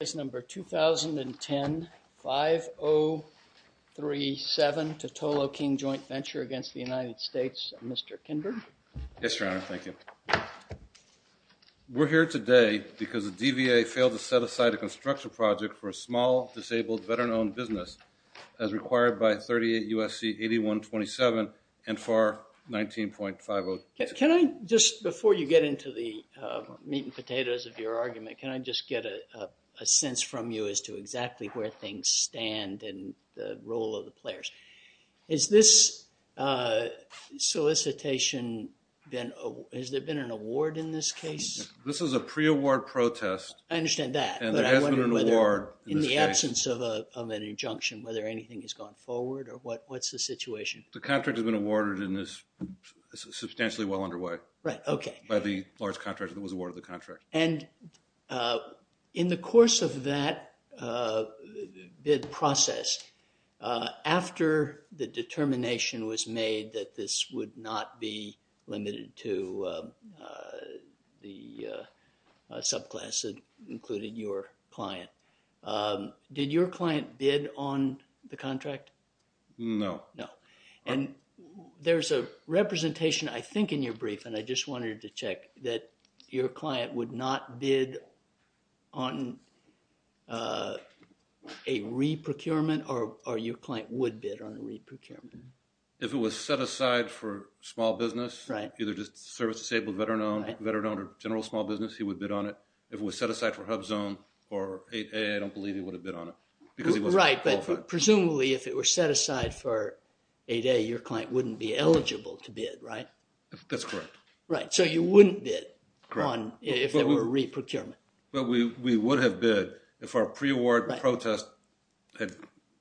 We're here today because the DVA failed to set aside a construction project for a small, disabled, veteran-owned business as required by 38 U.S.C. 8127 and FAR 19.506. Can I just, before you get into the meat and potatoes of your argument, can I just get a sense from you as to exactly where things stand and the role of the players? Has this solicitation been, has there been an award in this case? This is a pre-award protest. I understand that. And there has been an award. In the absence of an injunction, whether anything has gone forward or what's the situation? The contract has been awarded and is substantially well underway by the large contractor that was awarded the contract. And in the course of that bid process, after the determination was made that this would not be limited to the subclass that included your client, did your client bid on the contract? No. No. And there's a representation, I think, in your brief, and I just wanted to check, that your client would not bid on a re-procurement or your client would bid on a re-procurement? If it was set aside for small business, either just service-disabled, veteran-owned or general small business, he would bid on it. If it was set aside for HUBZone or 8A, I don't believe he would have bid on it because he wasn't qualified. Presumably, if it were set aside for 8A, your client wouldn't be eligible to bid, right? That's correct. Right. So you wouldn't bid on if there were a re-procurement. Well, we would have bid if our pre-award protest had...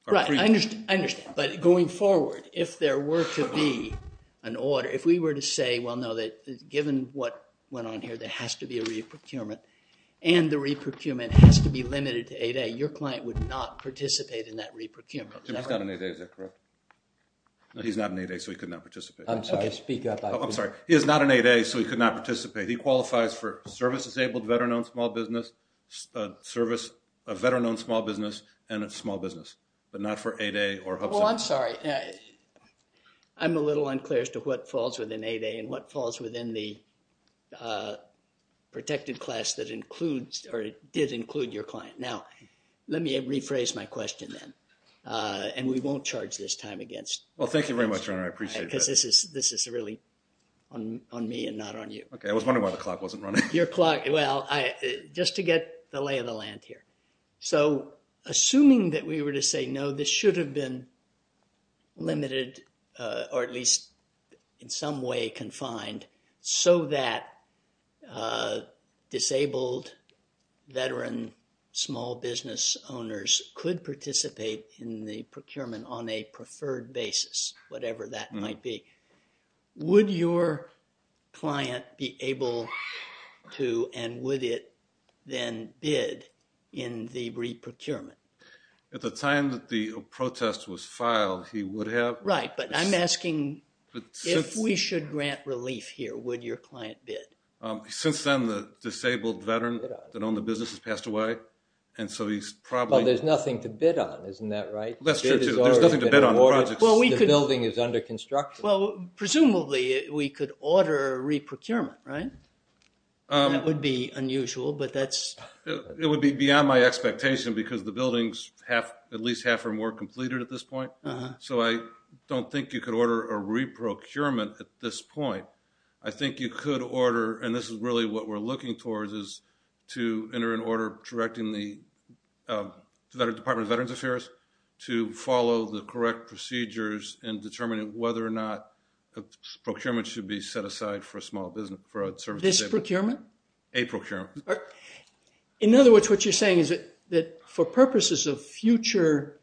Right. I understand. I understand. But going forward, if there were to be an order, if we were to say, well, no, that given what went on here, there has to be a re-procurement and the re-procurement has to be limited to 8A, your client would not participate in that re-procurement. He's not an 8A, is that correct? No, he's not an 8A, so he could not participate. I'm sorry. Speak up. I'm sorry. He is not an 8A, so he could not participate. He qualifies for service-disabled, veteran-owned small business, service, a veteran-owned small business, and a small business, but not for 8A or HUBZone. Well, I'm sorry. I'm a little unclear as to what falls within 8A and what falls within the protected class that includes or did include your client. Now, let me rephrase my question then, and we won't charge this time against you. Well, thank you very much, Your Honor. I appreciate that. Because this is really on me and not on you. Okay. I was wondering why the clock wasn't running. Your clock. Well, just to get the lay of the land here. So, assuming that we were to say, no, this should have been limited or at least in some way confined so that disabled veteran small business owners could participate in the procurement on a preferred basis, whatever that might be, would your client be able to and would it then bid in the re-procurement? At the time that the protest was filed, he would have. Right, but I'm asking if we should grant relief here, would your client bid? Since then, the disabled veteran that owned the business has passed away, and so he's probably... Well, there's nothing to bid on. Isn't that right? That's true, too. There's nothing to bid on. The building is under construction. Well, presumably, we could order a re-procurement, right? That would be unusual, but that's... It would be beyond my expectation because the building's at least half or more completed at this point, so I don't think you could order a re-procurement at this point. I think you could order, and this is really what we're looking towards, is to enter an order directing the Department of Veterans Affairs to follow the correct procedures and determine whether or not a procurement should be set aside for a small business. This procurement? A procurement. In other words, what you're saying is that for purposes of future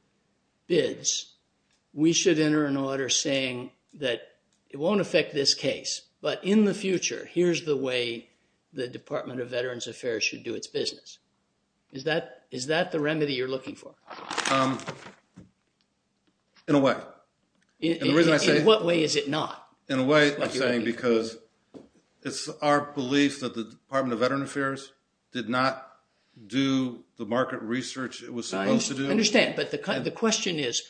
bids, we should enter an order saying that it won't affect this case, but in the future, here's the way the Department of Veterans Affairs should do its business. Is that the remedy you're looking for? In a way. In what way is it not? In a way, I'm saying because it's our belief that the Department of Veterans Affairs did not do the market research it was supposed to do. I understand, but the question is,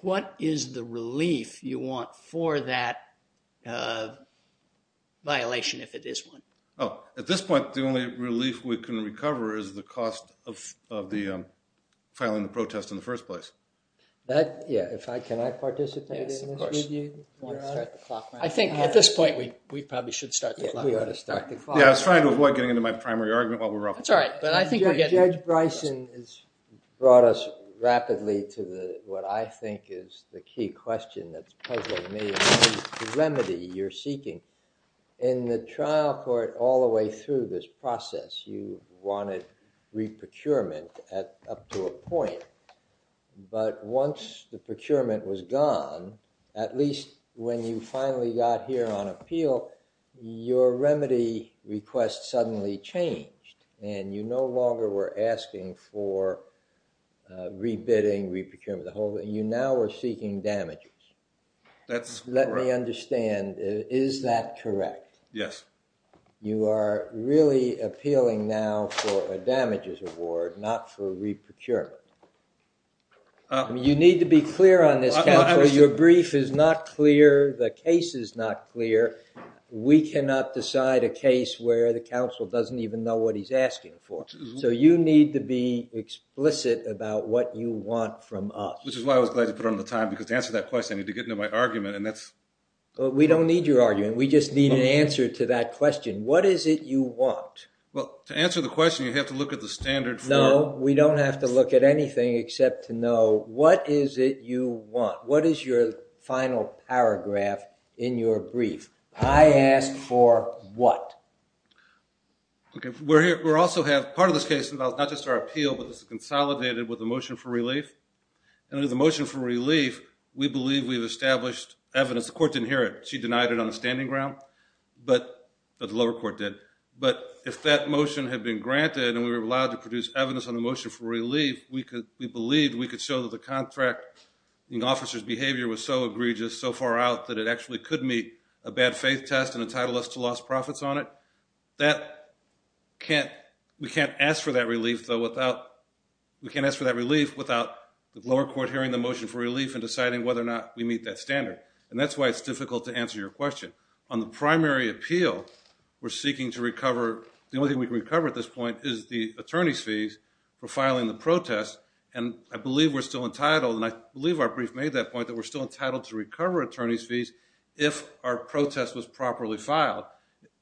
what is the relief you want for that violation, if it is one? Oh, at this point, the only relief we can recover is the cost of the filing the protest in the first place. Can I participate in this with you? Yes, of course. I think at this point, we probably should start the clock. We ought to start the clock. Yeah, I was trying to avoid getting into my primary argument while we were up. That's all right. Judge Bryson has brought us rapidly to what I think is the key question that's puzzling me, the remedy you're seeking. In the trial court all the way through this process, you wanted re-procurement up to a point. But once the procurement was gone, at least when you finally got here on appeal, your remedy request suddenly changed. And you no longer were asking for re-bidding, re-procurement, the whole thing. You now were seeking damages. That's correct. As far as I understand, is that correct? Yes. You are really appealing now for a damages award, not for re-procurement. You need to be clear on this, counsel. Your brief is not clear. The case is not clear. We cannot decide a case where the counsel doesn't even know what he's asking for. So you need to be explicit about what you want from us. Which is why I was glad you put on the time, because to answer that question, I need to get into my argument. We don't need your argument. We just need an answer to that question. What is it you want? Well, to answer the question, you have to look at the standard. No, we don't have to look at anything except to know what is it you want. What is your final paragraph in your brief? I asked for what? Part of this case involves not just our appeal, but it's consolidated with a motion for relief. And under the motion for relief, we believe we've established evidence. The court didn't hear it. She denied it on the standing ground. The lower court did. But if that motion had been granted and we were allowed to produce evidence on the motion for relief, we believed we could show that the contract officer's behavior was so egregious, so far out, that it actually could meet a bad faith test and entitle us to lost profits on it. We can't ask for that relief without the lower court hearing the motion for relief and deciding whether or not we meet that standard. And that's why it's difficult to answer your question. On the primary appeal, the only thing we can recover at this point is the attorney's fees for filing the protest. And I believe we're still entitled, and I believe our brief made that point, that we're still entitled to recover attorney's fees if our protest was properly filed.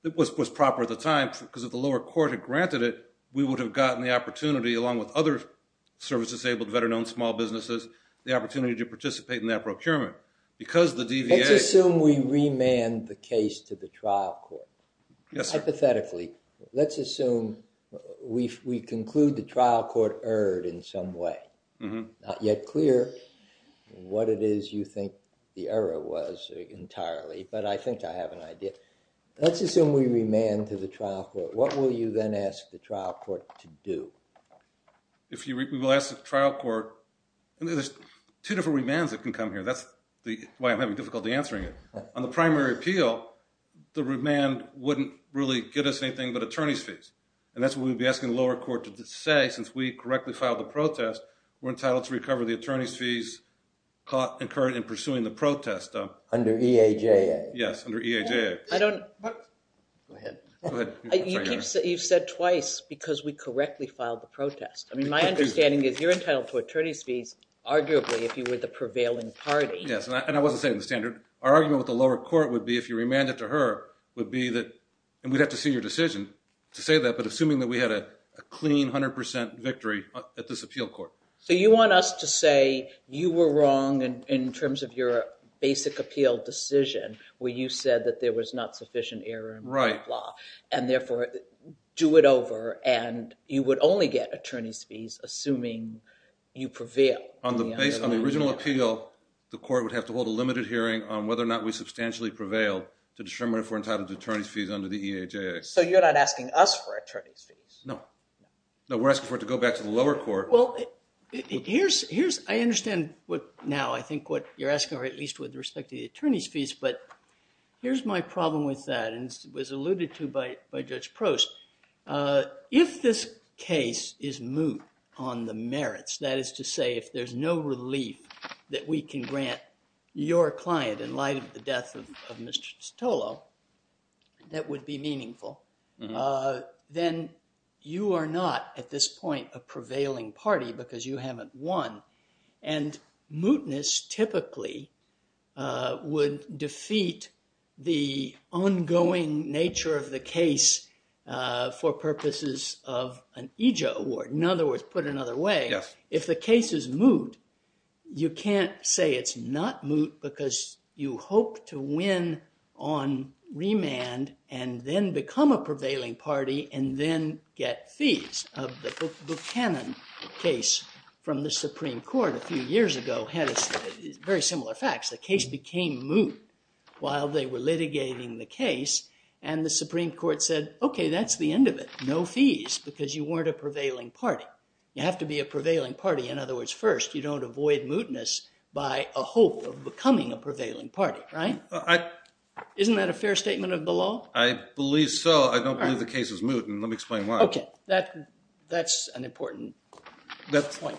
It was proper at the time, because if the lower court had granted it, we would have gotten the opportunity, along with other service-disabled, better-known small businesses, the opportunity to participate in that procurement. Let's assume we remand the case to the trial court. Yes, sir. Hypothetically, let's assume we conclude the trial court erred in some way. Not yet clear what it is you think the error was entirely, but I think I have an idea. Let's assume we remand to the trial court. What will you then ask the trial court to do? We will ask the trial court. There's two different remands that can come here. That's why I'm having difficulty answering it. On the primary appeal, the remand wouldn't really get us anything but attorney's fees. And that's what we would be asking the lower court to say, since we correctly filed the protest, we're entitled to recover the attorney's fees incurred in pursuing the protest. Under EAJA. Yes, under EAJA. Go ahead. You've said twice, because we correctly filed the protest. My understanding is you're entitled to attorney's fees, arguably, if you were the prevailing party. Yes, and I wasn't saying the standard. Our argument with the lower court would be, if you remand it to her, would be that, and we'd have to see your decision to say that, but assuming that we had a clean 100% victory at this appeal court. So you want us to say you were wrong in terms of your basic appeal decision, where you said that there was not sufficient error in the law, and therefore do it over, and you would only get attorney's fees assuming you prevail. On the original appeal, the court would have to hold a limited hearing on whether or not we substantially prevailed to determine if we're entitled to attorney's fees under the EAJA. So you're not asking us for attorney's fees? No. No, we're asking for it to go back to the lower court. Well, I understand now, I think, what you're asking, or at least with respect to the attorney's fees, but here's my problem with that, and it was alluded to by Judge Prost. If this case is moot on the merits, that is to say, if there's no relief that we can grant your client in light of the death of Mr. Stolo, that would be meaningful. Then you are not at this point a prevailing party because you haven't won, and mootness typically would defeat the ongoing nature of the case for purposes of an EAJA award. In other words, put another way, if the case is moot, you can't say it's not moot because you hope to win on remand and then become a prevailing party and then get fees. The Buchanan case from the Supreme Court a few years ago had very similar facts. The case became moot while they were litigating the case, and the Supreme Court said, okay, that's the end of it. No fees because you weren't a prevailing party. You have to be a prevailing party. In other words, first, you don't avoid mootness by a hope of becoming a prevailing party, right? Isn't that a fair statement of the law? I believe so. I don't believe the case is moot, and let me explain why. Okay. That's an important point.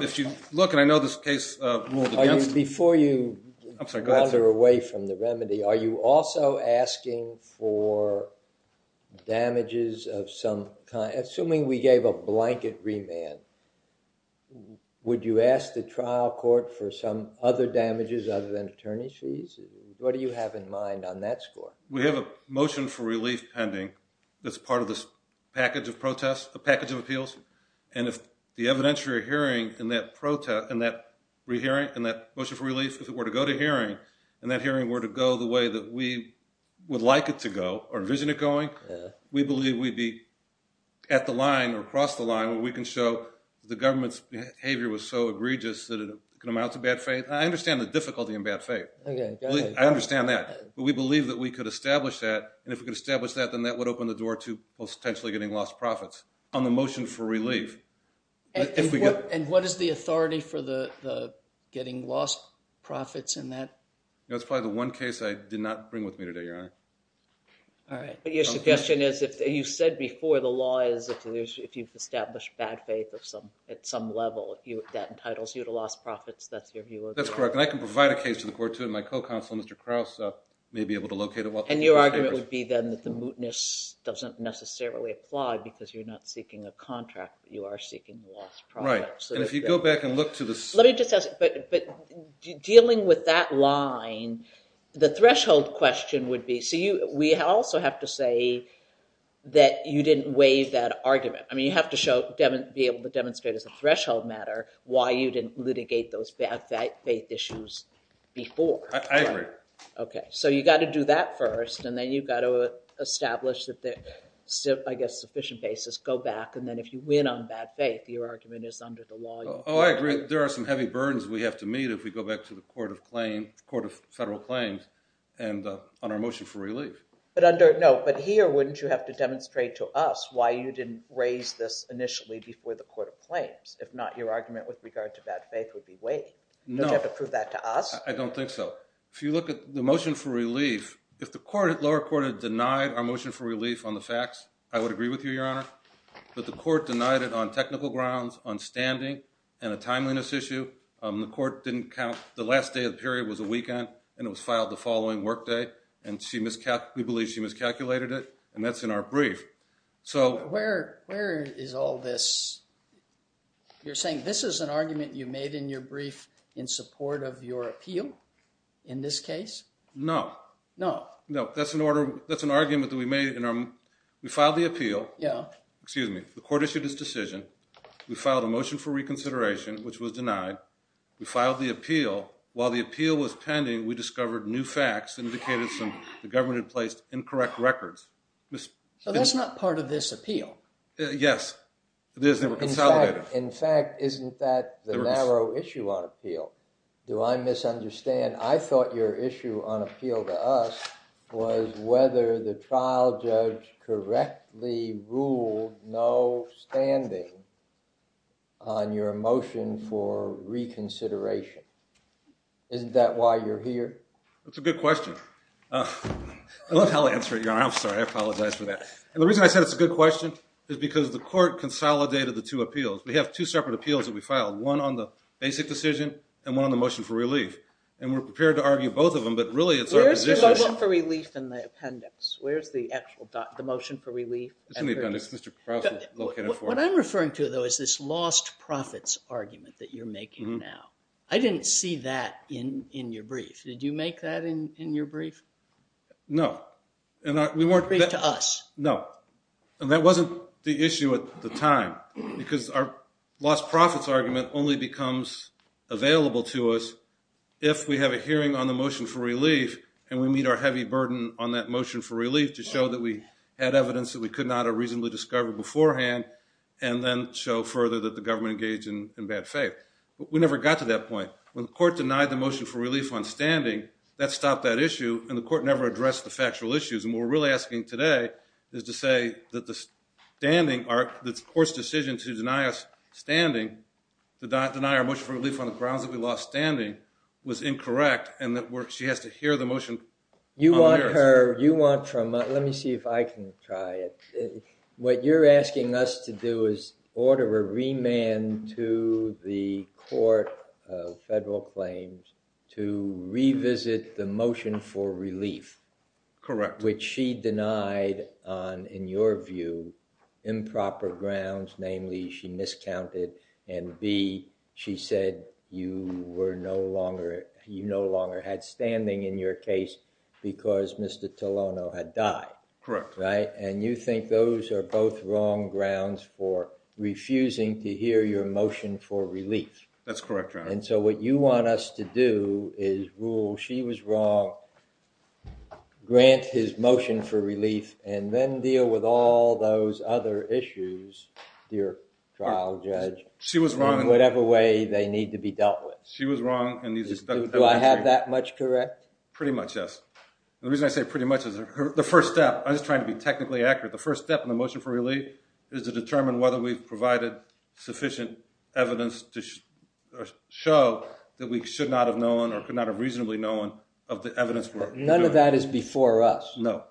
If you look, and I know this case ruled against it. Before you wander away from the remedy, are you also asking for damages of some kind? Assuming we gave a blanket remand, would you ask the trial court for some other damages other than attorney's fees? What do you have in mind on that score? We have a motion for relief pending that's part of this package of appeals, and that hearing were to go the way that we would like it to go or envision it going. We believe we'd be at the line or across the line where we can show the government's behavior was so egregious that it can amount to bad faith. I understand the difficulty in bad faith. I understand that, but we believe that we could establish that, and if we could establish that, then that would open the door to potentially getting lost profits on the motion for relief. And what is the authority for getting lost profits in that? That's probably the one case I did not bring with me today, Your Honor. All right. But your suggestion is, you said before, the law is if you've established bad faith at some level, that entitles you to lost profits. That's your view of it? That's correct, and I can provide a case to the court, too, and my co-counsel, Mr. Krauss, may be able to locate it. And your argument would be then that the mootness doesn't necessarily apply because you're not seeking a contract, but you are seeking lost profits. Right, and if you go back and look to the… Let me just ask, but dealing with that line, the threshold question would be, so we also have to say that you didn't waive that argument. I mean, you have to be able to demonstrate as a threshold matter why you didn't litigate those bad faith issues before. I agree. Okay, so you've got to do that first, and then you've got to establish, I guess, a sufficient basis, go back, and then if you win on bad faith, your argument is under the law. Oh, I agree. There are some heavy burdens we have to meet if we go back to the Court of Federal Claims on our motion for relief. No, but here, wouldn't you have to demonstrate to us why you didn't raise this initially before the Court of Claims? If not, your argument with regard to bad faith would be waived. No. Would you have to prove that to us? I don't think so. If you look at the motion for relief, if the lower court had denied our motion for relief on the facts, I would agree with you, Your Honor, but the court denied it on technical grounds, on standing, and a timeliness issue. The court didn't count the last day of the period was a weekend, and it was filed the following workday, and we believe she miscalculated it, and that's in our brief. Where is all this? You're saying this is an argument you made in your brief in support of your appeal in this case? No. No. No, that's an argument that we made. We filed the appeal. Yeah. Excuse me. The court issued its decision. We filed a motion for reconsideration, which was denied. We filed the appeal. While the appeal was pending, we discovered new facts that indicated the government had placed incorrect records. So that's not part of this appeal. Yes, it is. They were consolidated. In fact, isn't that the narrow issue on appeal? Do I misunderstand? I thought your issue on appeal to us was whether the trial judge correctly ruled no standing on your motion for reconsideration. Isn't that why you're here? That's a good question. I love how I answer it, Your Honor. I'm sorry. I apologize for that. And the reason I said it's a good question is because the court consolidated the two appeals. We have two separate appeals that we filed, one on the basic decision and one on the motion for relief. And we're prepared to argue both of them, but really it's our position. Where's the motion for relief in the appendix? Where's the actual motion for relief? It's in the appendix. Mr. Krause is located for it. What I'm referring to, though, is this lost profits argument that you're making now. I didn't see that in your brief. Did you make that in your brief? No. In your brief to us. No. And that wasn't the issue at the time because our lost profits argument only becomes available to us if we have a hearing on the motion for relief and we meet our heavy burden on that motion for relief to show that we had evidence that we could not have reasonably discovered beforehand and then show further that the government engaged in bad faith. We never got to that point. When the court denied the motion for relief on standing, that stopped that issue and the court never addressed the factual issues. And what we're really asking today is to say that the court's decision to deny us standing, to deny our motion for relief on the grounds that we lost standing, was incorrect and that she has to hear the motion on the merits. Let me see if I can try it. What you're asking us to do is order a remand to the court of federal claims to revisit the motion for relief. Correct. Which she denied on, in your view, improper grounds. Namely, she miscounted and B, she said you no longer had standing in your case because Mr. Tolano had died. Correct. And you think those are both wrong grounds for refusing to hear your motion for relief. That's correct, Your Honor. And so what you want us to do is rule she was wrong, grant his motion for relief, and then deal with all those other issues, dear trial judge, in whatever way they need to be dealt with. She was wrong. Do I have that much correct? Pretty much, yes. The reason I say pretty much is the first step, I'm just trying to be technically accurate, the first step in the motion for relief is to determine whether we've provided sufficient evidence to show that we should not have known or could not have reasonably known of the evidence. None of that is before us. No.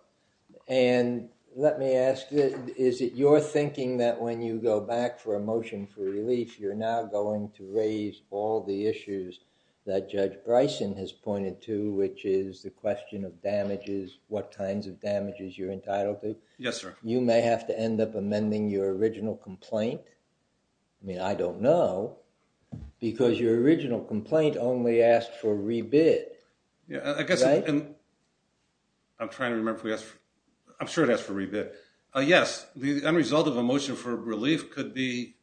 And let me ask, is it your thinking that when you go back for a motion for relief, you're now going to raise all the issues that Judge Bryson has pointed to, which is the question of damages, what kinds of damages you're entitled to? Yes, sir. You may have to end up amending your original complaint. I mean, I don't know, because your original complaint only asked for rebid. I guess I'm trying to remember if we asked for, I'm sure it asked for rebid. Yes, the end result of a motion for relief could be,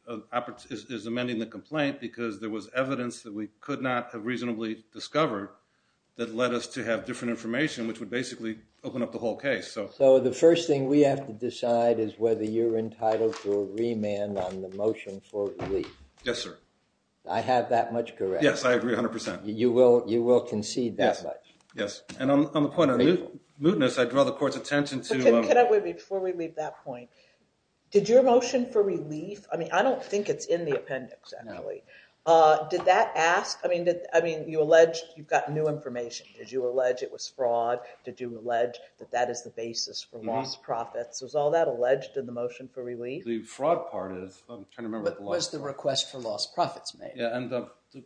is amending the complaint because there was evidence that we could not have reasonably discovered that led us to have different information, which would basically open up the whole case. So the first thing we have to decide is whether you're entitled to a remand on the motion for relief. Yes, sir. I have that much correct? Yes, I agree 100%. You will concede that much? Yes. And on the point of mootness, I draw the court's attention to Can I, before we leave that point, did your motion for relief, I mean, I don't think it's in the appendix, actually. Did that ask, I mean, you allege you've got new information. Did you allege it was fraud? Did you allege that that is the basis for lost profits? Was all that alleged in the motion for relief? The fraud part is, I'm trying to remember. What was the request for lost profits made?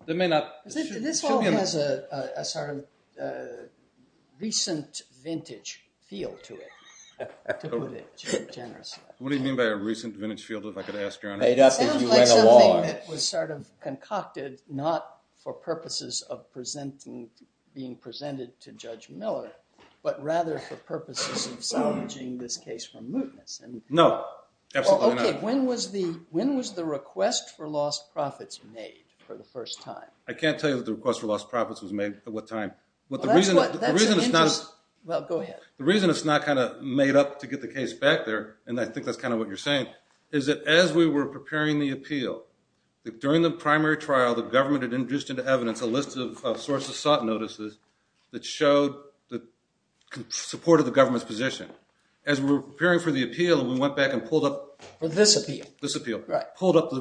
This all has a sort of recent vintage feel to it, to put it generously. What do you mean by a recent vintage feel, if I could ask your honor? It sounds like something that was sort of concocted not for purposes of being presented to Judge Miller, but rather for purposes of salvaging this case from mootness. No, absolutely not. Okay, when was the request for lost profits made for the first time? I can't tell you that the request for lost profits was made. At what time? Well, that's an interest. Well, go ahead. The reason it's not kind of made up to get the case back there, and I think that's kind of what you're saying, is that as we were preparing the appeal, during the primary trial the government had introduced into evidence a list of sources sought notices that supported the government's position. As we were preparing for the appeal and we went back and pulled up the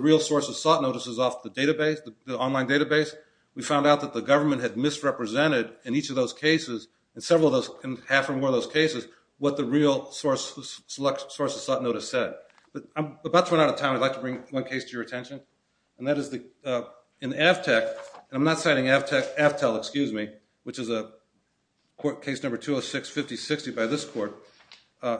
real sources sought notices off the database, the online database, we found out that the government had misrepresented in each of those cases, in several of those, in half or more of those cases, what the real sources sought notice said. I'm about to run out of time. I'd like to bring one case to your attention, and that is in Aftel, and I'm not citing Aftel, excuse me, which is a case number 206-5060 by this court.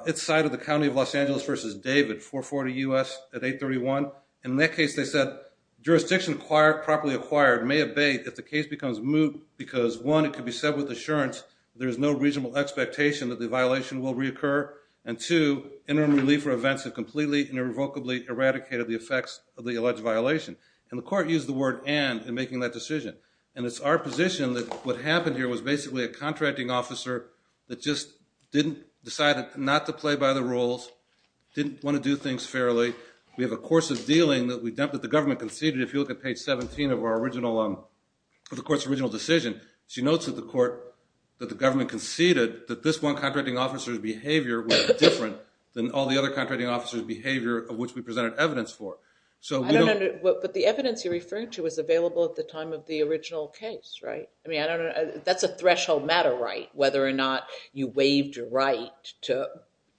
It's cited the county of Los Angeles v. David, 440 U.S. at 831, and in that case they said, jurisdiction properly acquired may abate if the case becomes moot because, one, it could be said with assurance that there is no reasonable expectation that the violation will reoccur, and two, interim relief for events that completely and irrevocably eradicated the effects of the alleged violation. And the court used the word and in making that decision, and it's our position that what happened here was basically a contracting officer that just didn't decide not to play by the rules, didn't want to do things fairly. We have a course of dealing that the government conceded. If you look at page 17 of the court's original decision, she notes that the government conceded that this one contracting officer's behavior was different than all the other contracting officers' behavior of which we presented evidence for. But the evidence you're referring to was available at the time of the original case, right? I mean, I don't know. That's a threshold matter right, whether or not you waived your right to,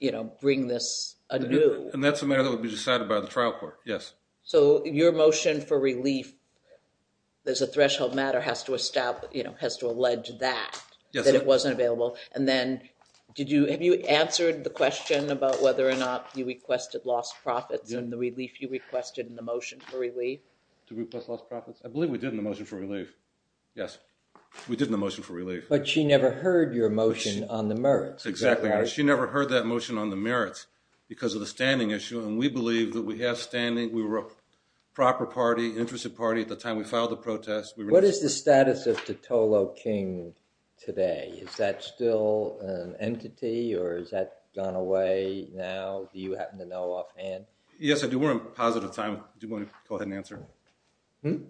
you know, bring this anew. And that's a matter that would be decided by the trial court, yes. So your motion for relief, there's a threshold matter has to establish, you know, has to allege that, that it wasn't available, and then did you, have you answered the question about whether or not you requested lost profits and the relief you requested in the motion for relief? Did we request lost profits? I believe we did in the motion for relief. Yes, we did in the motion for relief. But she never heard your motion on the merits. Exactly. She never heard that motion on the merits because of the standing issue, and we believe that we have standing. We were a proper party, interested party at the time we filed the protest. What is the status of Totolo King today? Is that still an entity or has that gone away now? Do you happen to know offhand? Yes, I do. We're in positive time. Do you want to go ahead and answer?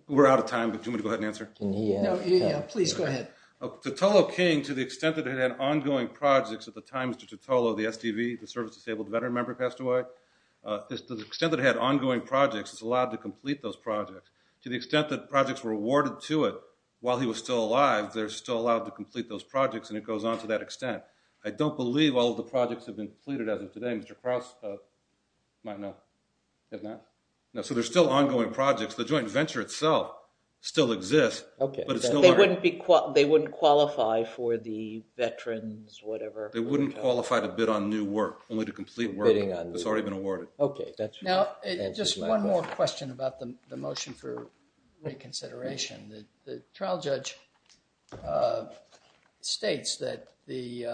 We're out of time, but do you want to go ahead and answer? Yeah, please go ahead. Totolo King, to the extent that it had ongoing projects at the time Mr. Totolo, the SDV, the service disabled veteran member passed away, to the extent that it had ongoing projects, it's allowed to complete those projects. To the extent that projects were awarded to it while he was still alive, they're still allowed to complete those projects, and it goes on to that extent. I don't believe all of the projects have been completed as of today. Mr. Krause might know. So there's still ongoing projects. The joint venture itself still exists. They wouldn't qualify for the veterans, whatever. They wouldn't qualify to bid on new work, only to complete work that's already been awarded. Okay, that's fair. Now, just one more question about the motion for reconsideration. The trial judge states that the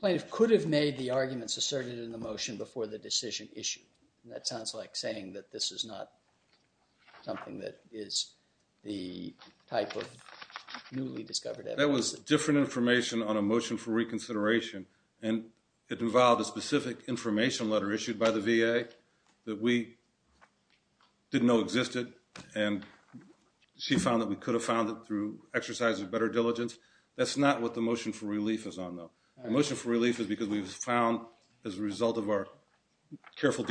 plaintiff could have made the arguments asserted in the motion before the decision issue. That sounds like saying that this is not something that is the type of newly discovered evidence. That was different information on a motion for reconsideration, and it involved a specific information letter issued by the VA that we didn't know existed, and she found that we could have found it through exercise of better diligence. That's not what the motion for relief is on, though. The motion for relief is because we found, as a result of our careful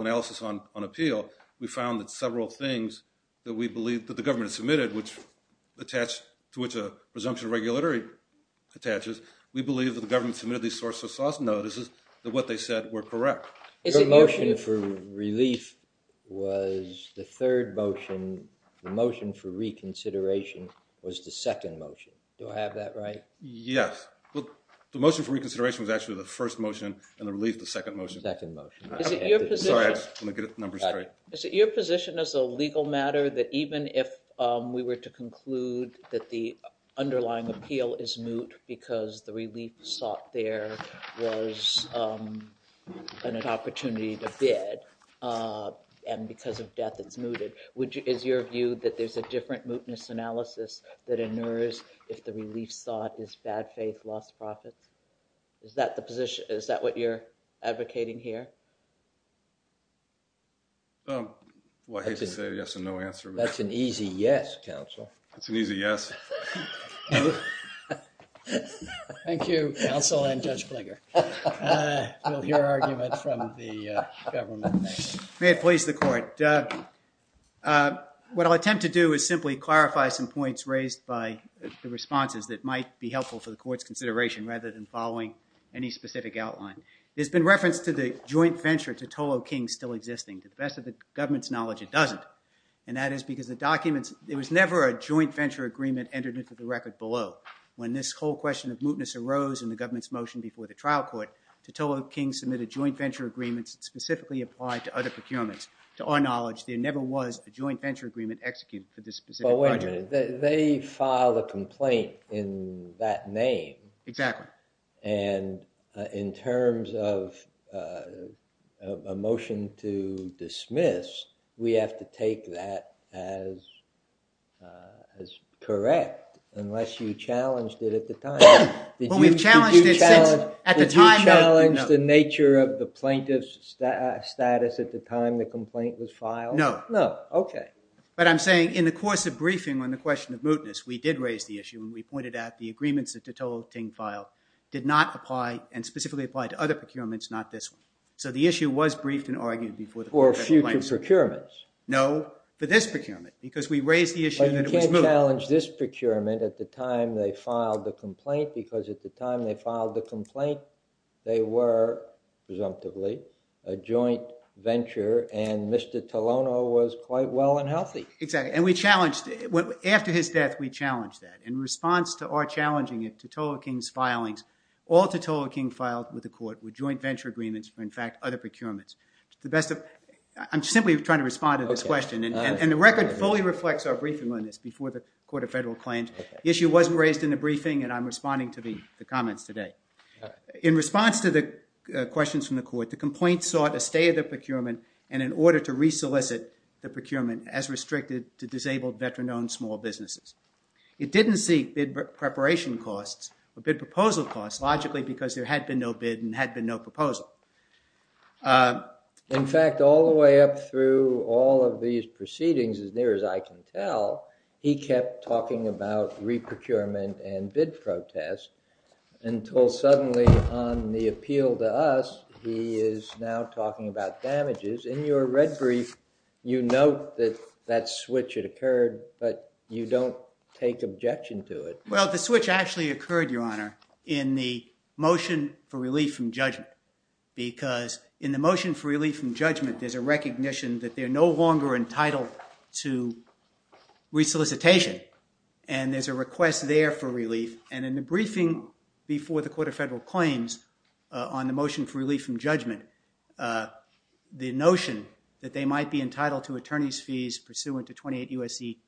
analysis on appeal, we found that several things that we believe that the government has submitted, to which a presumption of regulatory attaches, we believe that the government submitted these sources of notice that what they said were correct. Your motion for relief was the third motion. The motion for reconsideration was the second motion. Do I have that right? Yes. The motion for reconsideration was actually the first motion, and the relief the second motion. Second motion. Sorry, I just want to get the numbers straight. Is it your position as a legal matter that even if we were to conclude that the underlying appeal is moot because the relief sought there was an opportunity to bid, and because of death it's mooted, is your view that there's a different mootness analysis that inures if the relief sought is bad faith, lost profits? Is that the position? Is that what you're advocating here? Well, I hate to say yes and no answer. That's an easy yes, counsel. That's an easy yes. Thank you, counsel and Judge Klinger. We'll hear arguments from the government. May it please the court. What I'll attempt to do is simply clarify some points raised by the responses that might be helpful for the court's consideration rather than following any specific outline. There's been reference to the joint venture to Tolo King still existing. To the best of the government's knowledge, it doesn't, and that is because the documents, there was never a joint venture agreement entered into the record below. When this whole question of mootness arose in the government's motion before the trial court, Tolo King submitted joint venture agreements specifically applied to other procurements. To our knowledge, there never was a joint venture agreement executed for this specific project. But wait a minute. They filed a complaint in that name. Exactly. And in terms of a motion to dismiss, we have to take that as correct unless you challenged it at the time. Well, we've challenged it since. Did you challenge the nature of the plaintiff's status at the time the complaint was filed? No. No. Okay. But I'm saying in the course of briefing on the question of mootness, we did raise the issue and we pointed out the agreements that Tolo King filed did not apply and specifically applied to other procurements, not this one. So the issue was briefed and argued before the court. For future procurements. No, for this procurement because we raised the issue that it was moot. But you can't challenge this procurement at the time they filed the complaint because at the time they filed the complaint, they were presumptively a joint venture and Mr. Tolono was quite well and healthy. Exactly. And we challenged it. After his death, we challenged that. In response to our challenging it to Tolo King's filings, all that Tolo King filed with the court were joint venture agreements for, in fact, other procurements. I'm simply trying to respond to this question. And the record fully reflects our briefing on this before the Court of Federal Claims. The issue wasn't raised in the briefing and I'm responding to the comments today. In response to the questions from the court, the complaint sought a stay of the procurement and in order to re-solicit the procurement as restricted to disabled veteran-owned small businesses. It didn't seek bid preparation costs or bid proposal costs logically because there had been no bid and had been no proposal. In fact, all the way up through all of these proceedings, as near as I can tell, he kept talking about re-procurement and bid protests until suddenly on the appeal to us, he is now talking about damages. In your red brief, you note that that switch had occurred, but you don't take objection to it. Well, the switch actually occurred, Your Honor, in the motion for relief from judgment because in the motion for relief from judgment, there's a recognition that they're no longer entitled to re-solicitation. And there's a request there for relief. And in the briefing before the Court of Federal Claims on the motion for relief from judgment, the notion that they might be entitled to attorney's fees pursuant to 28 U.S.C.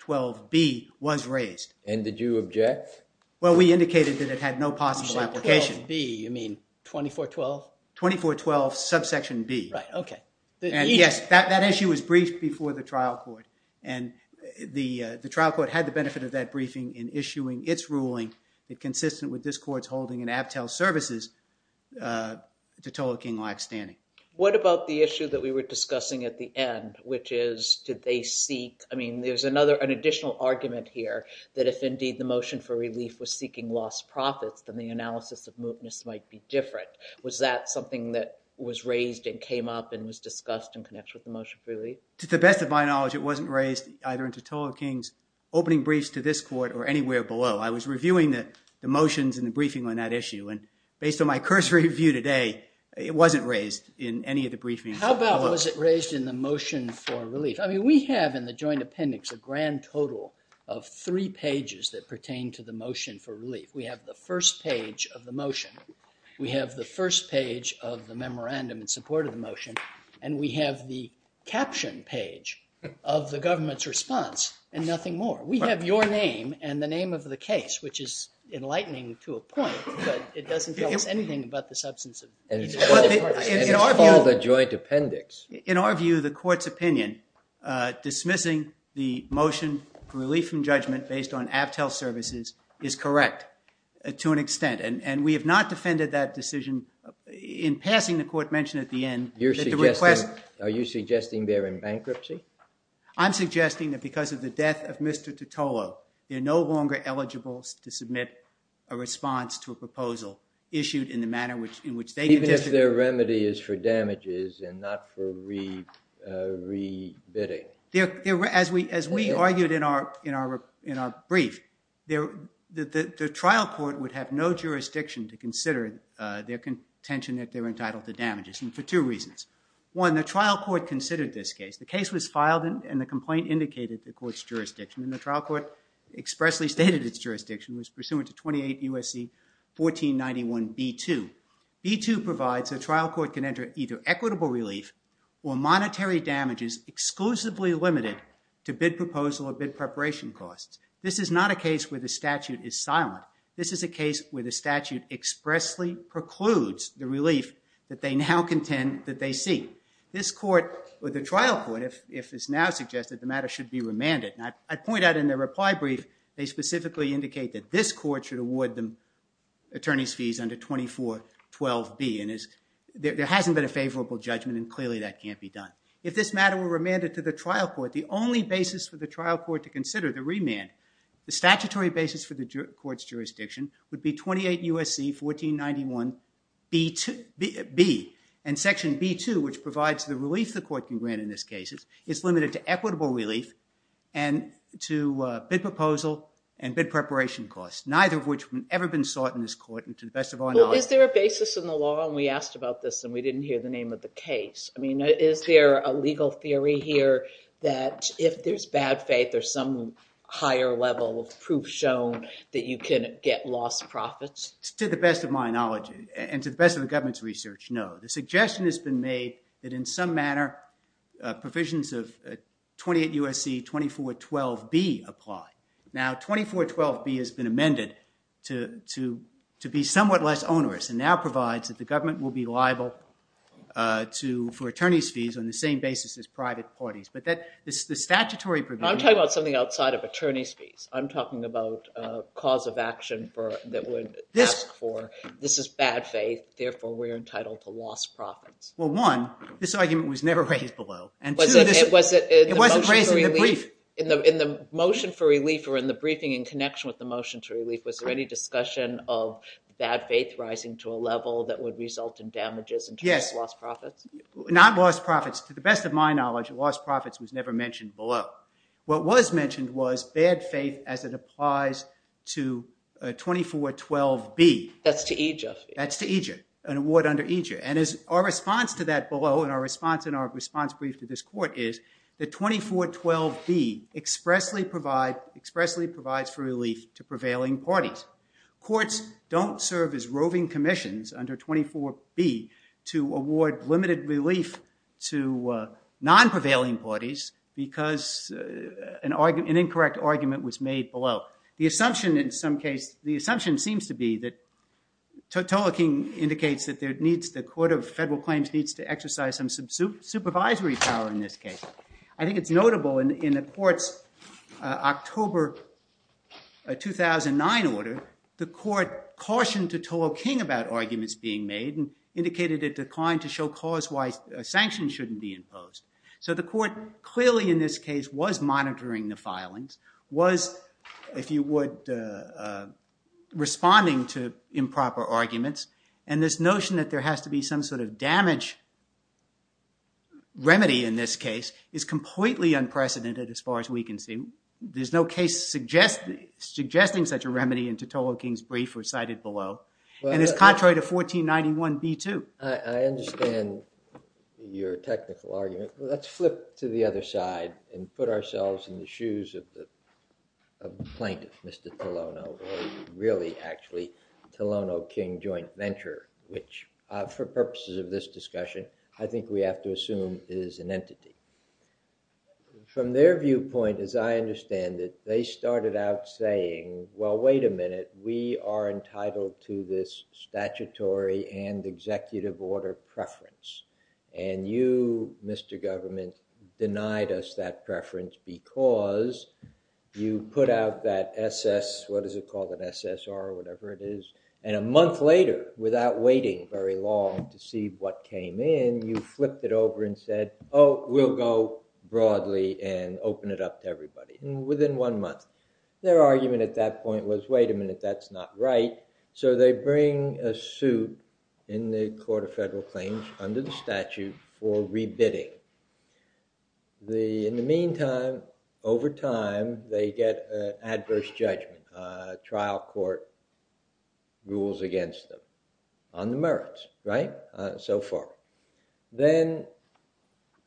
12b was raised. And did you object? Well, we indicated that it had no possible application. 12b, you mean 2412? 2412 subsection b. Right, okay. And yes, that issue was briefed before the trial court. And the trial court had the benefit of that briefing in issuing its ruling consistent with this court's holding in Aptell Services to total king-like standing. What about the issue that we were discussing at the end, which is did they seek— I mean, there's an additional argument here that if indeed the motion for relief was seeking lost profits, then the analysis of mootness might be different. Was that something that was raised and came up and was discussed and connects with the motion for relief? To the best of my knowledge, it wasn't raised either into total kings, opening briefs to this court or anywhere below. I was reviewing the motions and the briefing on that issue. And based on my cursory view today, it wasn't raised in any of the briefings. How about was it raised in the motion for relief? I mean, we have in the joint appendix a grand total of three pages that pertain to the motion for relief. We have the first page of the motion. And we have the caption page of the government's response and nothing more. We have your name and the name of the case, which is enlightening to a point, but it doesn't tell us anything about the substance of the joint appendix. In our view, the court's opinion dismissing the motion for relief from judgment based on Aptell Services is correct to an extent. And we have not defended that decision in passing the court mention at the end. Are you suggesting they're in bankruptcy? I'm suggesting that because of the death of Mr. Tutolo, they're no longer eligible to submit a response to a proposal issued in the manner in which they suggested. Even if their remedy is for damages and not for re-bidding? As we argued in our brief, the trial court would have no jurisdiction to consider their contention that they're entitled to damages, and for two reasons. One, the trial court considered this case. The case was filed, and the complaint indicated the court's jurisdiction. And the trial court expressly stated its jurisdiction was pursuant to 28 U.S.C. 1491b2. B2 provides a trial court can enter either equitable relief or monetary damages exclusively limited to bid proposal or bid preparation costs. This is not a case where the statute is silent. This is a case where the statute expressly precludes the relief that they now contend that they seek. This court, or the trial court, if it's now suggested, the matter should be remanded. And I point out in their reply brief, they specifically indicate that this court should award the attorney's fees under 2412b. And there hasn't been a favorable judgment, and clearly that can't be done. If this matter were remanded to the trial court, the only basis for the trial court to consider the remand, the statutory basis for the court's jurisdiction would be 28 U.S.C. 1491b2. And b2, which provides the relief the court can grant in this case, is limited to equitable relief and to bid proposal and bid preparation costs, neither of which have ever been sought in this court. And to the best of our knowledge— Well, is there a basis in the law? And we asked about this, and we didn't hear the name of the case. I mean, is there a legal theory here that if there's bad faith, there's some higher level of proof shown that you can get lost profits? To the best of my knowledge and to the best of the government's research, no. The suggestion has been made that in some manner provisions of 28 U.S.C. 2412b apply. Now 2412b has been amended to be somewhat less onerous and now provides that the government will be liable for attorney's fees on the same basis as private parties. But the statutory provision— I'm talking about something outside of attorney's fees. I'm talking about a cause of action that would ask for, this is bad faith, therefore we're entitled to lost profits. Well, one, this argument was never raised below. And two, it wasn't raised in the brief. In the motion for relief or in the briefing in connection with the motion to relief, was there any discussion of bad faith rising to a level that would result in damages in terms of lost profits? Yes. Not lost profits. To the best of my knowledge, lost profits was never mentioned below. What was mentioned was bad faith as it applies to 2412b. That's to EJER. That's to EJER, an award under EJER. And our response to that below and our response in our response brief to this court is that 2412b expressly provides for relief to prevailing parties. Courts don't serve as roving commissions under 24b to award limited relief to non-prevailing parties because an incorrect argument was made below. Well, the assumption in some case, the assumption seems to be that Tolo King indicates that the court of federal claims needs to exercise some supervisory power in this case. I think it's notable in the court's October 2009 order, the court cautioned Tolo King about arguments being made and indicated a decline to show cause why sanctions shouldn't be imposed. was, if you would, responding to improper arguments. And this notion that there has to be some sort of damage remedy in this case is completely unprecedented as far as we can see. There's no case suggesting such a remedy in Tolo King's brief or cited below. And it's contrary to 1491b too. I understand your technical argument. Let's flip to the other side and put ourselves in the shoes of the plaintiff, Mr. Tolono, or really actually Tolono-King Joint Venture, which for purposes of this discussion, I think we have to assume is an entity. From their viewpoint, as I understand it, they started out saying, well, wait a minute, we are entitled to this statutory and executive order preference. And you, Mr. Government, denied us that preference because you put out that SS, what is it called, an SSR or whatever it is. And a month later, without waiting very long to see what came in, you flipped it over and said, oh, we'll go broadly and open it up to everybody. And within one month, their argument at that point was, wait a minute, that's not right. So they bring a suit in the Court of Federal Claims under the statute for rebidding. In the meantime, over time, they get adverse judgment. Trial court rules against them on the merits, right, so far. Then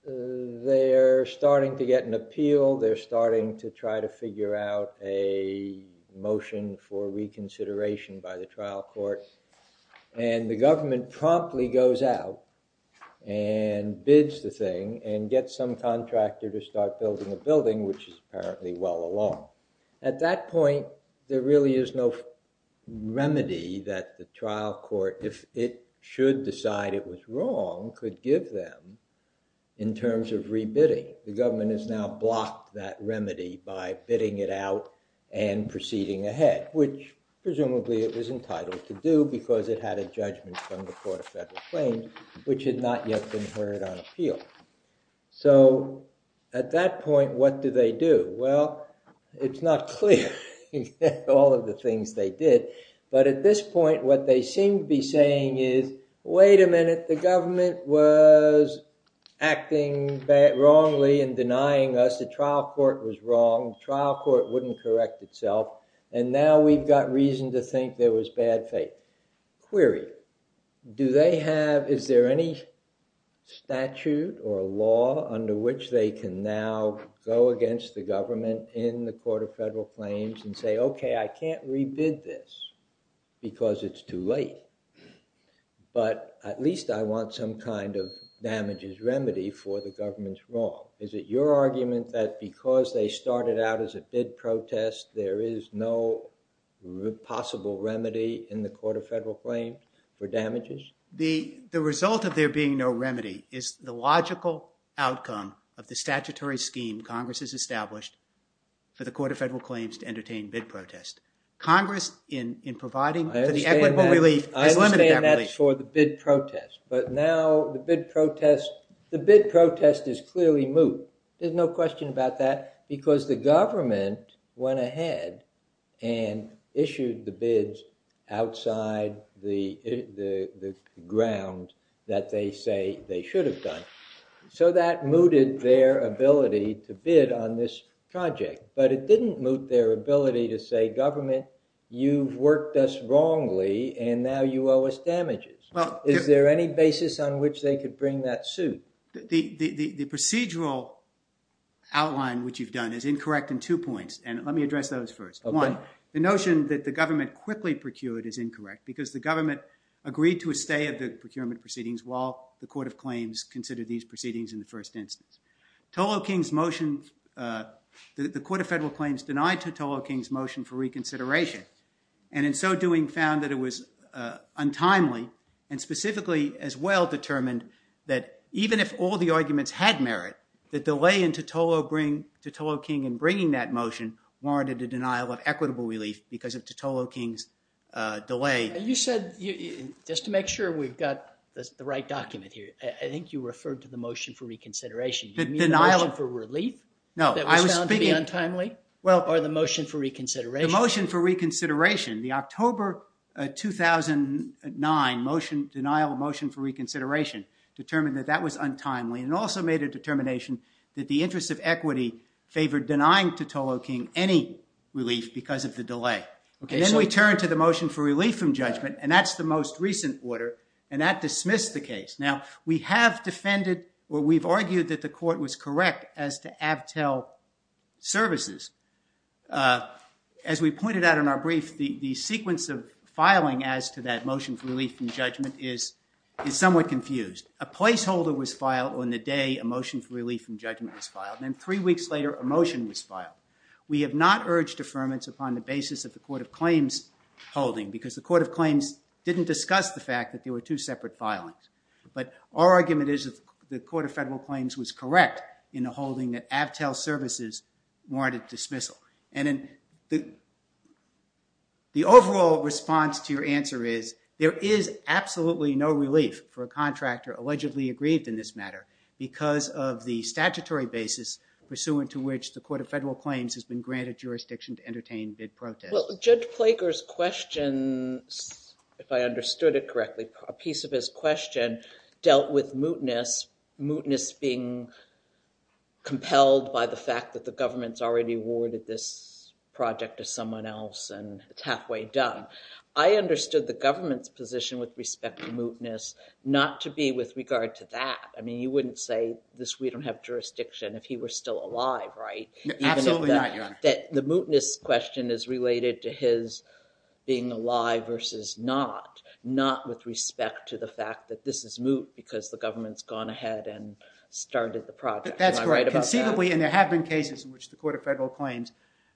they're starting to get an appeal. They're starting to try to figure out a motion for reconsideration by the trial court. And the government promptly goes out and bids the thing and gets some contractor to start building a building, which is apparently well along. At that point, there really is no remedy that the trial court, if it should decide it was wrong, could give them in terms of rebidding. The government has now blocked that remedy by bidding it out and proceeding ahead, which presumably it was entitled to do because it had a judgment from the Court of Federal Claims, which had not yet been heard on appeal. So at that point, what do they do? Well, it's not clear all of the things they did. But at this point, what they seem to be saying is, wait a minute, the government was acting wrongly and denying us. The trial court was wrong. The trial court wouldn't correct itself. And now we've got reason to think there was bad faith. Query, do they have, is there any statute or law under which they can now go against the government in the Court of Federal Claims and say, okay, I can't rebid this because it's too late. But at least I want some kind of damages remedy for the government's wrong. Is it your argument that because they started out as a bid protest, there is no possible remedy in the Court of Federal Claims for damages? The result of there being no remedy is the logical outcome of the statutory scheme Congress has established for the Court of Federal Claims to entertain bid protest. Congress, in providing for the equitable relief, has limited that relief. I understand that's for the bid protest. But now the bid protest is clearly moot. There's no question about that because the government went ahead and issued the bids outside the ground that they say they should have done. So that mooted their ability to bid on this project. But it didn't moot their ability to say, government, you've worked us wrongly, and now you owe us damages. Is there any basis on which they could bring that suit? The procedural outline which you've done is incorrect in two points, and let me address those first. One, the notion that the government quickly procured is incorrect because the government agreed to a stay of the procurement proceedings while the Court of Claims considered these proceedings in the first instance. Tolo King's motion, the Court of Federal Claims denied Tolo King's motion for reconsideration and in so doing found that it was untimely and specifically as well determined that even if all the arguments had merit, the delay into Tolo King in bringing that motion warranted a denial of equitable relief because of Tolo King's delay. You said, just to make sure we've got the right document here, I think you referred to the motion for reconsideration. You mean the motion for relief that was found to be untimely? Or the motion for reconsideration? The motion for reconsideration, the October 2009 motion, denial of motion for reconsideration determined that that was untimely and also made a determination that the interest of equity favored denying to Tolo King any relief because of the delay. And then we turn to the motion for relief from judgment, and that's the most recent order, and that dismissed the case. Now, we have defended or we've argued that the court was correct as to avtel services. As we pointed out in our brief, the sequence of filing as to that motion for relief from judgment is somewhat confused. A placeholder was filed on the day a motion for relief from judgment was filed, and then three weeks later a motion was filed. We have not urged affirmance upon the basis of the Court of Claims holding because the Court of Claims didn't discuss the fact that there were two separate filings. But our argument is that the Court of Federal Claims was correct in the holding that avtel services warranted dismissal. And the overall response to your answer is there is absolutely no relief for a contractor allegedly aggrieved in this matter because of the statutory basis pursuant to which the Court of Federal Claims has been granted jurisdiction to entertain bid protest. Well, Judge Plager's question, if I understood it correctly, a piece of his question dealt with mootness, mootness being compelled by the fact that the government's already awarded this project to someone else and it's halfway done. I understood the government's position with respect to mootness not to be with regard to that. I mean, you wouldn't say this we don't have jurisdiction if he were still alive, right? Absolutely not, Your Honor. That the mootness question is related to his being alive versus not, not with respect to the fact that this is moot because the government's gone ahead and started the project. Am I right about that? That's correct. Conceivably, and there have been cases in which the Court of Federal Claims,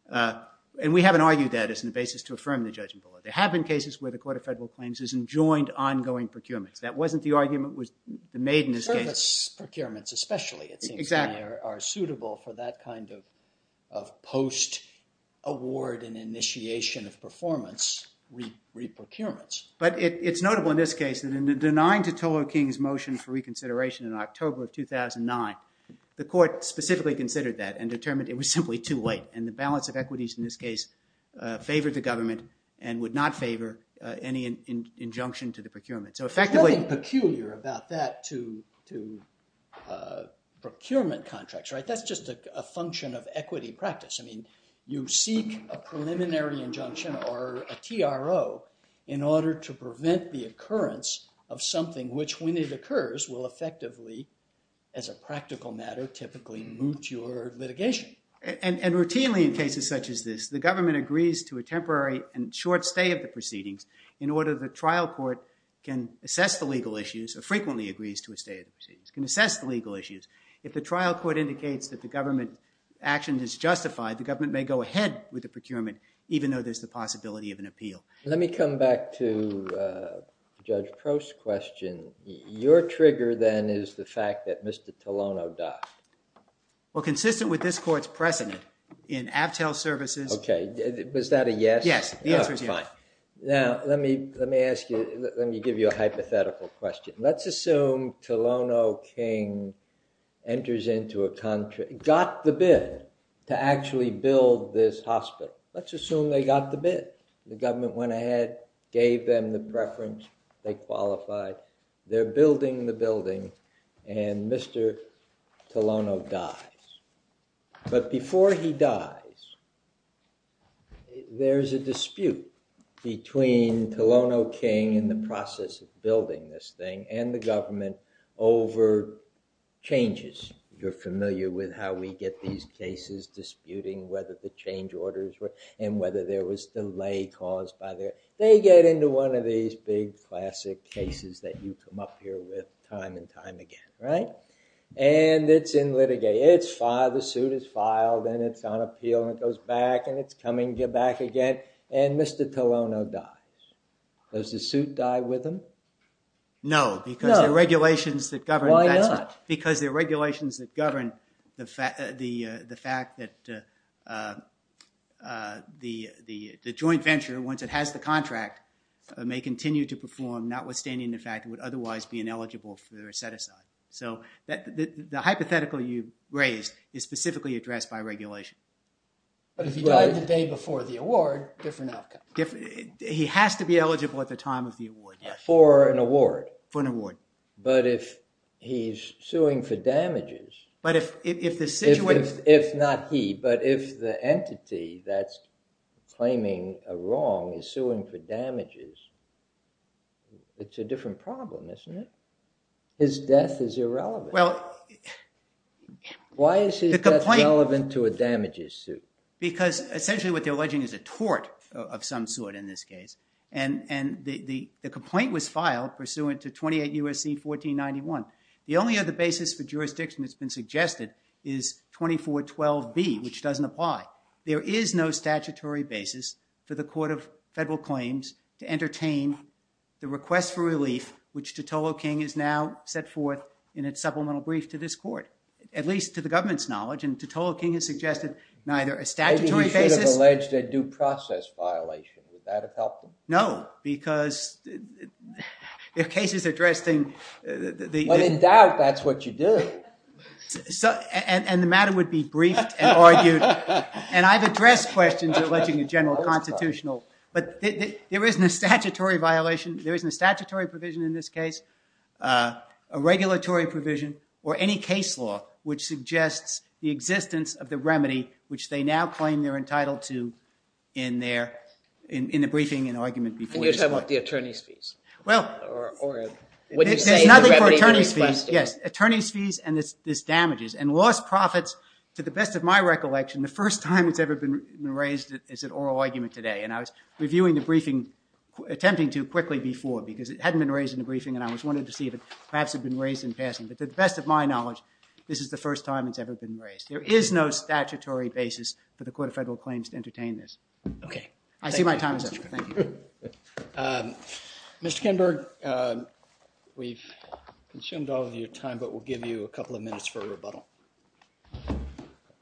and we haven't argued that as a basis to affirm the judgment. There have been cases where the Court of Federal Claims has enjoined ongoing procurements. That wasn't the argument that was made in this case. Service procurements especially, it seems to me, are suitable for that kind of post-award and initiation of performance re-procurements. But it's notable in this case that in the denying to Toho King's motion for reconsideration in October of 2009, the court specifically considered that and determined it was simply too late. And the balance of equities in this case favored the government and would not favor any injunction to the procurement. There's nothing peculiar about that to procurement contracts. That's just a function of equity practice. You seek a preliminary injunction or a TRO in order to prevent the occurrence of something which, when it occurs, will effectively, as a practical matter, typically moot your litigation. And routinely in cases such as this, the government agrees to a temporary and short stay of the proceedings in order the trial court can assess the legal issues or frequently agrees to a stay of the proceedings, can assess the legal issues. If the trial court indicates that the government action is justified, the government may go ahead with the procurement even though there's the possibility of an appeal. Let me come back to Judge Crow's question. Your trigger then is the fact that Mr. Tolano died. Well, consistent with this court's precedent in Aptell Services... Okay, was that a yes? Yes, the answer is yes. Now, let me give you a hypothetical question. Let's assume Tolano King got the bid to actually build this hospital. Let's assume they got the bid. The government went ahead, gave them the preference, they qualified. They're building the building, and Mr. Tolano dies. But before he dies, there's a dispute between Tolano King in the process of building this thing and the government over changes. You're familiar with how we get these cases, disputing whether the change orders were... and whether there was delay caused by their... They get into one of these big classic cases that you come up here with time and time again, right? And it's in litigate. It's filed, the suit is filed, and it's on appeal, and it goes back, and it's coming back again, and Mr. Tolano dies. Does the suit die with him? No, because the regulations that govern... Why not? Because the regulations that govern the fact that the joint venture, once it has the contract, may continue to perform, notwithstanding the fact it would otherwise be ineligible for set-aside. So the hypothetical you raised is specifically addressed by regulation. But if he died the day before the award, different outcome. He has to be eligible at the time of the award. For an award. For an award. But if he's suing for damages... But if the situation... If not he, but if the entity that's claiming a wrong is suing for damages, it's a different problem, isn't it? His death is irrelevant. Why is his death relevant to a damages suit? Because essentially what they're alleging is a tort of some sort in this case, and the complaint was filed pursuant to 28 U.S.C. 1491. The only other basis for jurisdiction that's been suggested is 2412B, which doesn't apply. There is no statutory basis for the court of federal claims to entertain the request for relief, which Totolo King has now set forth in its supplemental brief to this court, at least to the government's knowledge, and Totolo King has suggested neither a statutory basis... Maybe he should have alleged a due process violation. Would that have helped him? No, because the case is addressing... But in doubt, that's what you do. And the matter would be briefed and argued. And I've addressed questions alleging a general constitutional... But there isn't a statutory violation, there isn't a statutory provision in this case, a regulatory provision, or any case law which suggests the existence of the remedy which they now claim they're entitled to in the briefing and argument before this court. And you're talking about the attorney's fees? There's nothing for attorney's fees. Yes, attorney's fees and this damages. And lost profits, to the best of my recollection, the first time it's ever been raised as an oral argument today. And I was reviewing the briefing, attempting to quickly before, because it hadn't been raised in the briefing and I wanted to see if it perhaps had been raised in passing. But to the best of my knowledge, this is the first time it's ever been raised. There is no statutory basis for the Court of Federal Claims to entertain this. Okay. I see my time is up. Thank you. Mr. Kinberg, we've consumed all of your time, but we'll give you a couple of minutes for a rebuttal.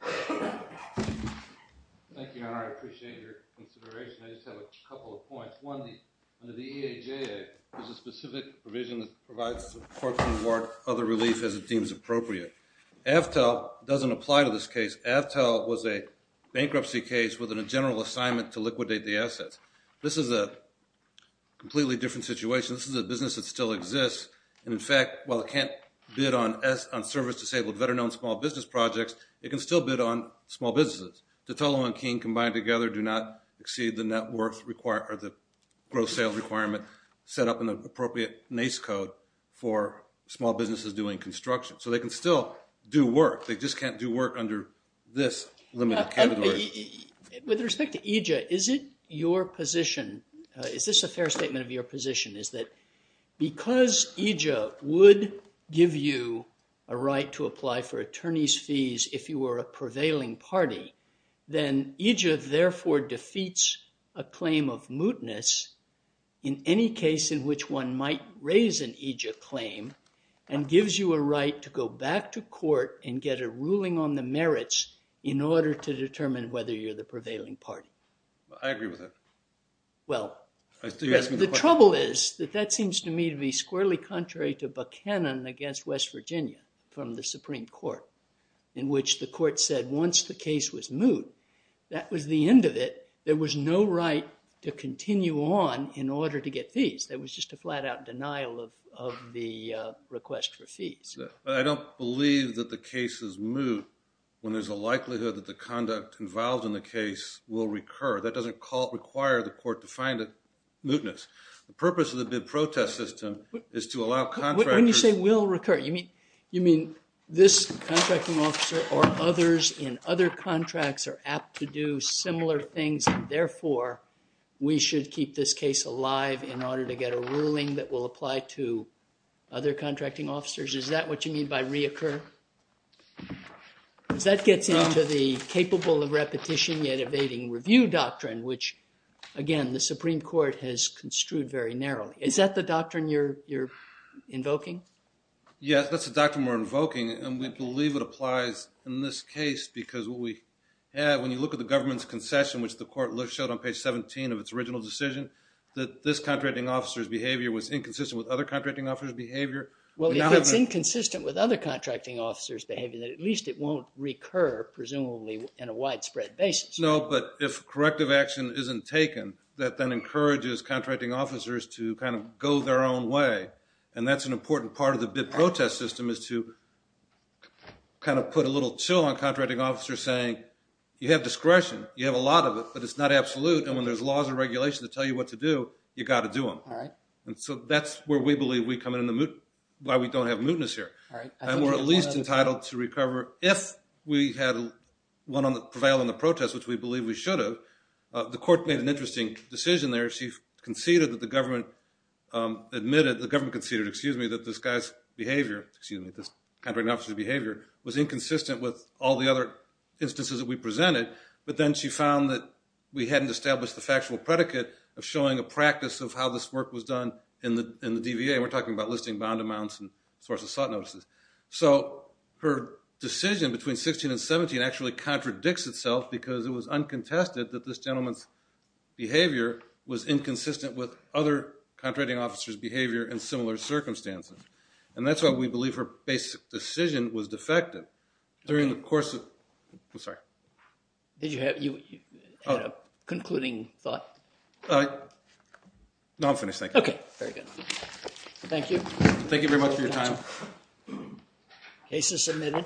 Thank you, Your Honor. I appreciate your consideration. I just have a couple of points. One, under the EAJA, there's a specific provision that provides the court to reward other relief as it deems appropriate. Avtel doesn't apply to this case. Avtel was a bankruptcy case with a general assignment to liquidate the assets. This is a completely different situation. This is a business that still exists. And in fact, while it can't bid on service-disabled veterans, it can still bid on small business projects, it can still bid on small businesses. Tetello and King combined together do not exceed the net worth required or the gross sales requirement set up in the appropriate NACE code for small businesses doing construction. So they can still do work. They just can't do work under this limited category. With respect to EAJA, is it your position, is this a fair statement of your position, is that because EAJA would give you a right to apply for attorney's fees if you were a prevailing party, then EAJA therefore defeats a claim of mootness in any case in which one might raise an EAJA claim and gives you a right to go back to court and get a ruling on the merits in order to determine whether you're the prevailing party? I agree with that. Well, the trouble is that that seems to me to be squarely contrary to Buchanan against West Virginia from the Supreme Court in which the court said once the case was moot, that was the end of it. There was no right to continue on in order to get fees. There was just a flat-out denial of the request for fees. But I don't believe that the case is moot when there's a likelihood that the conduct involved in the case will recur. That doesn't require the court to find a mootness. The purpose of the bid protest system is to allow contractors... When you say will recur, you mean this contracting officer or others in other contracts are apt to do similar things and therefore we should keep this case alive in order to get a ruling that will apply to other contracting officers? Is that what you mean by reoccur? Because that gets into the capable of repetition yet evading review doctrine, which, again, the Supreme Court has construed very narrowly. Is that the doctrine you're invoking? Yes, that's the doctrine we're invoking and we believe it applies in this case because when you look at the government's concession, which the court showed on page 17 of its original decision, that this contracting officer's behavior was inconsistent with other contracting officers' behavior. Well, if it's inconsistent with other contracting officers' behavior, then at least it won't recur, presumably, in a widespread basis. No, but if corrective action isn't taken, that then encourages contracting officers to kind of go their own way, and that's an important part of the bid protest system is to kind of put a little chill on contracting officers saying, you have discretion, you have a lot of it, but it's not absolute, and when there's laws and regulations that tell you what to do, you've got to do them. And so that's where we believe we come in, why we don't have mootness here. And we're at least entitled to recover if we had prevailed in the protest, which we believe we should have. The court made an interesting decision there. She conceded that the government admitted... The government conceded, excuse me, that this guy's behavior, excuse me, this contracting officer's behavior was inconsistent with all the other instances that we presented, but then she found that we hadn't established the factual predicate of showing a practice of how this work was done in the DVA, and we're talking about listing bond amounts and source-of-sought notices. So her decision between 16 and 17 actually contradicts itself because it was uncontested that this gentleman's behavior was inconsistent with other contracting officers' behavior in similar circumstances. And that's why we believe her basic decision was defective during the course of... I'm sorry. Did you have... You had a concluding thought? Uh... No, I'm finished, thank you. Okay, very good. Thank you. Thank you very much for your time. Case is submitted.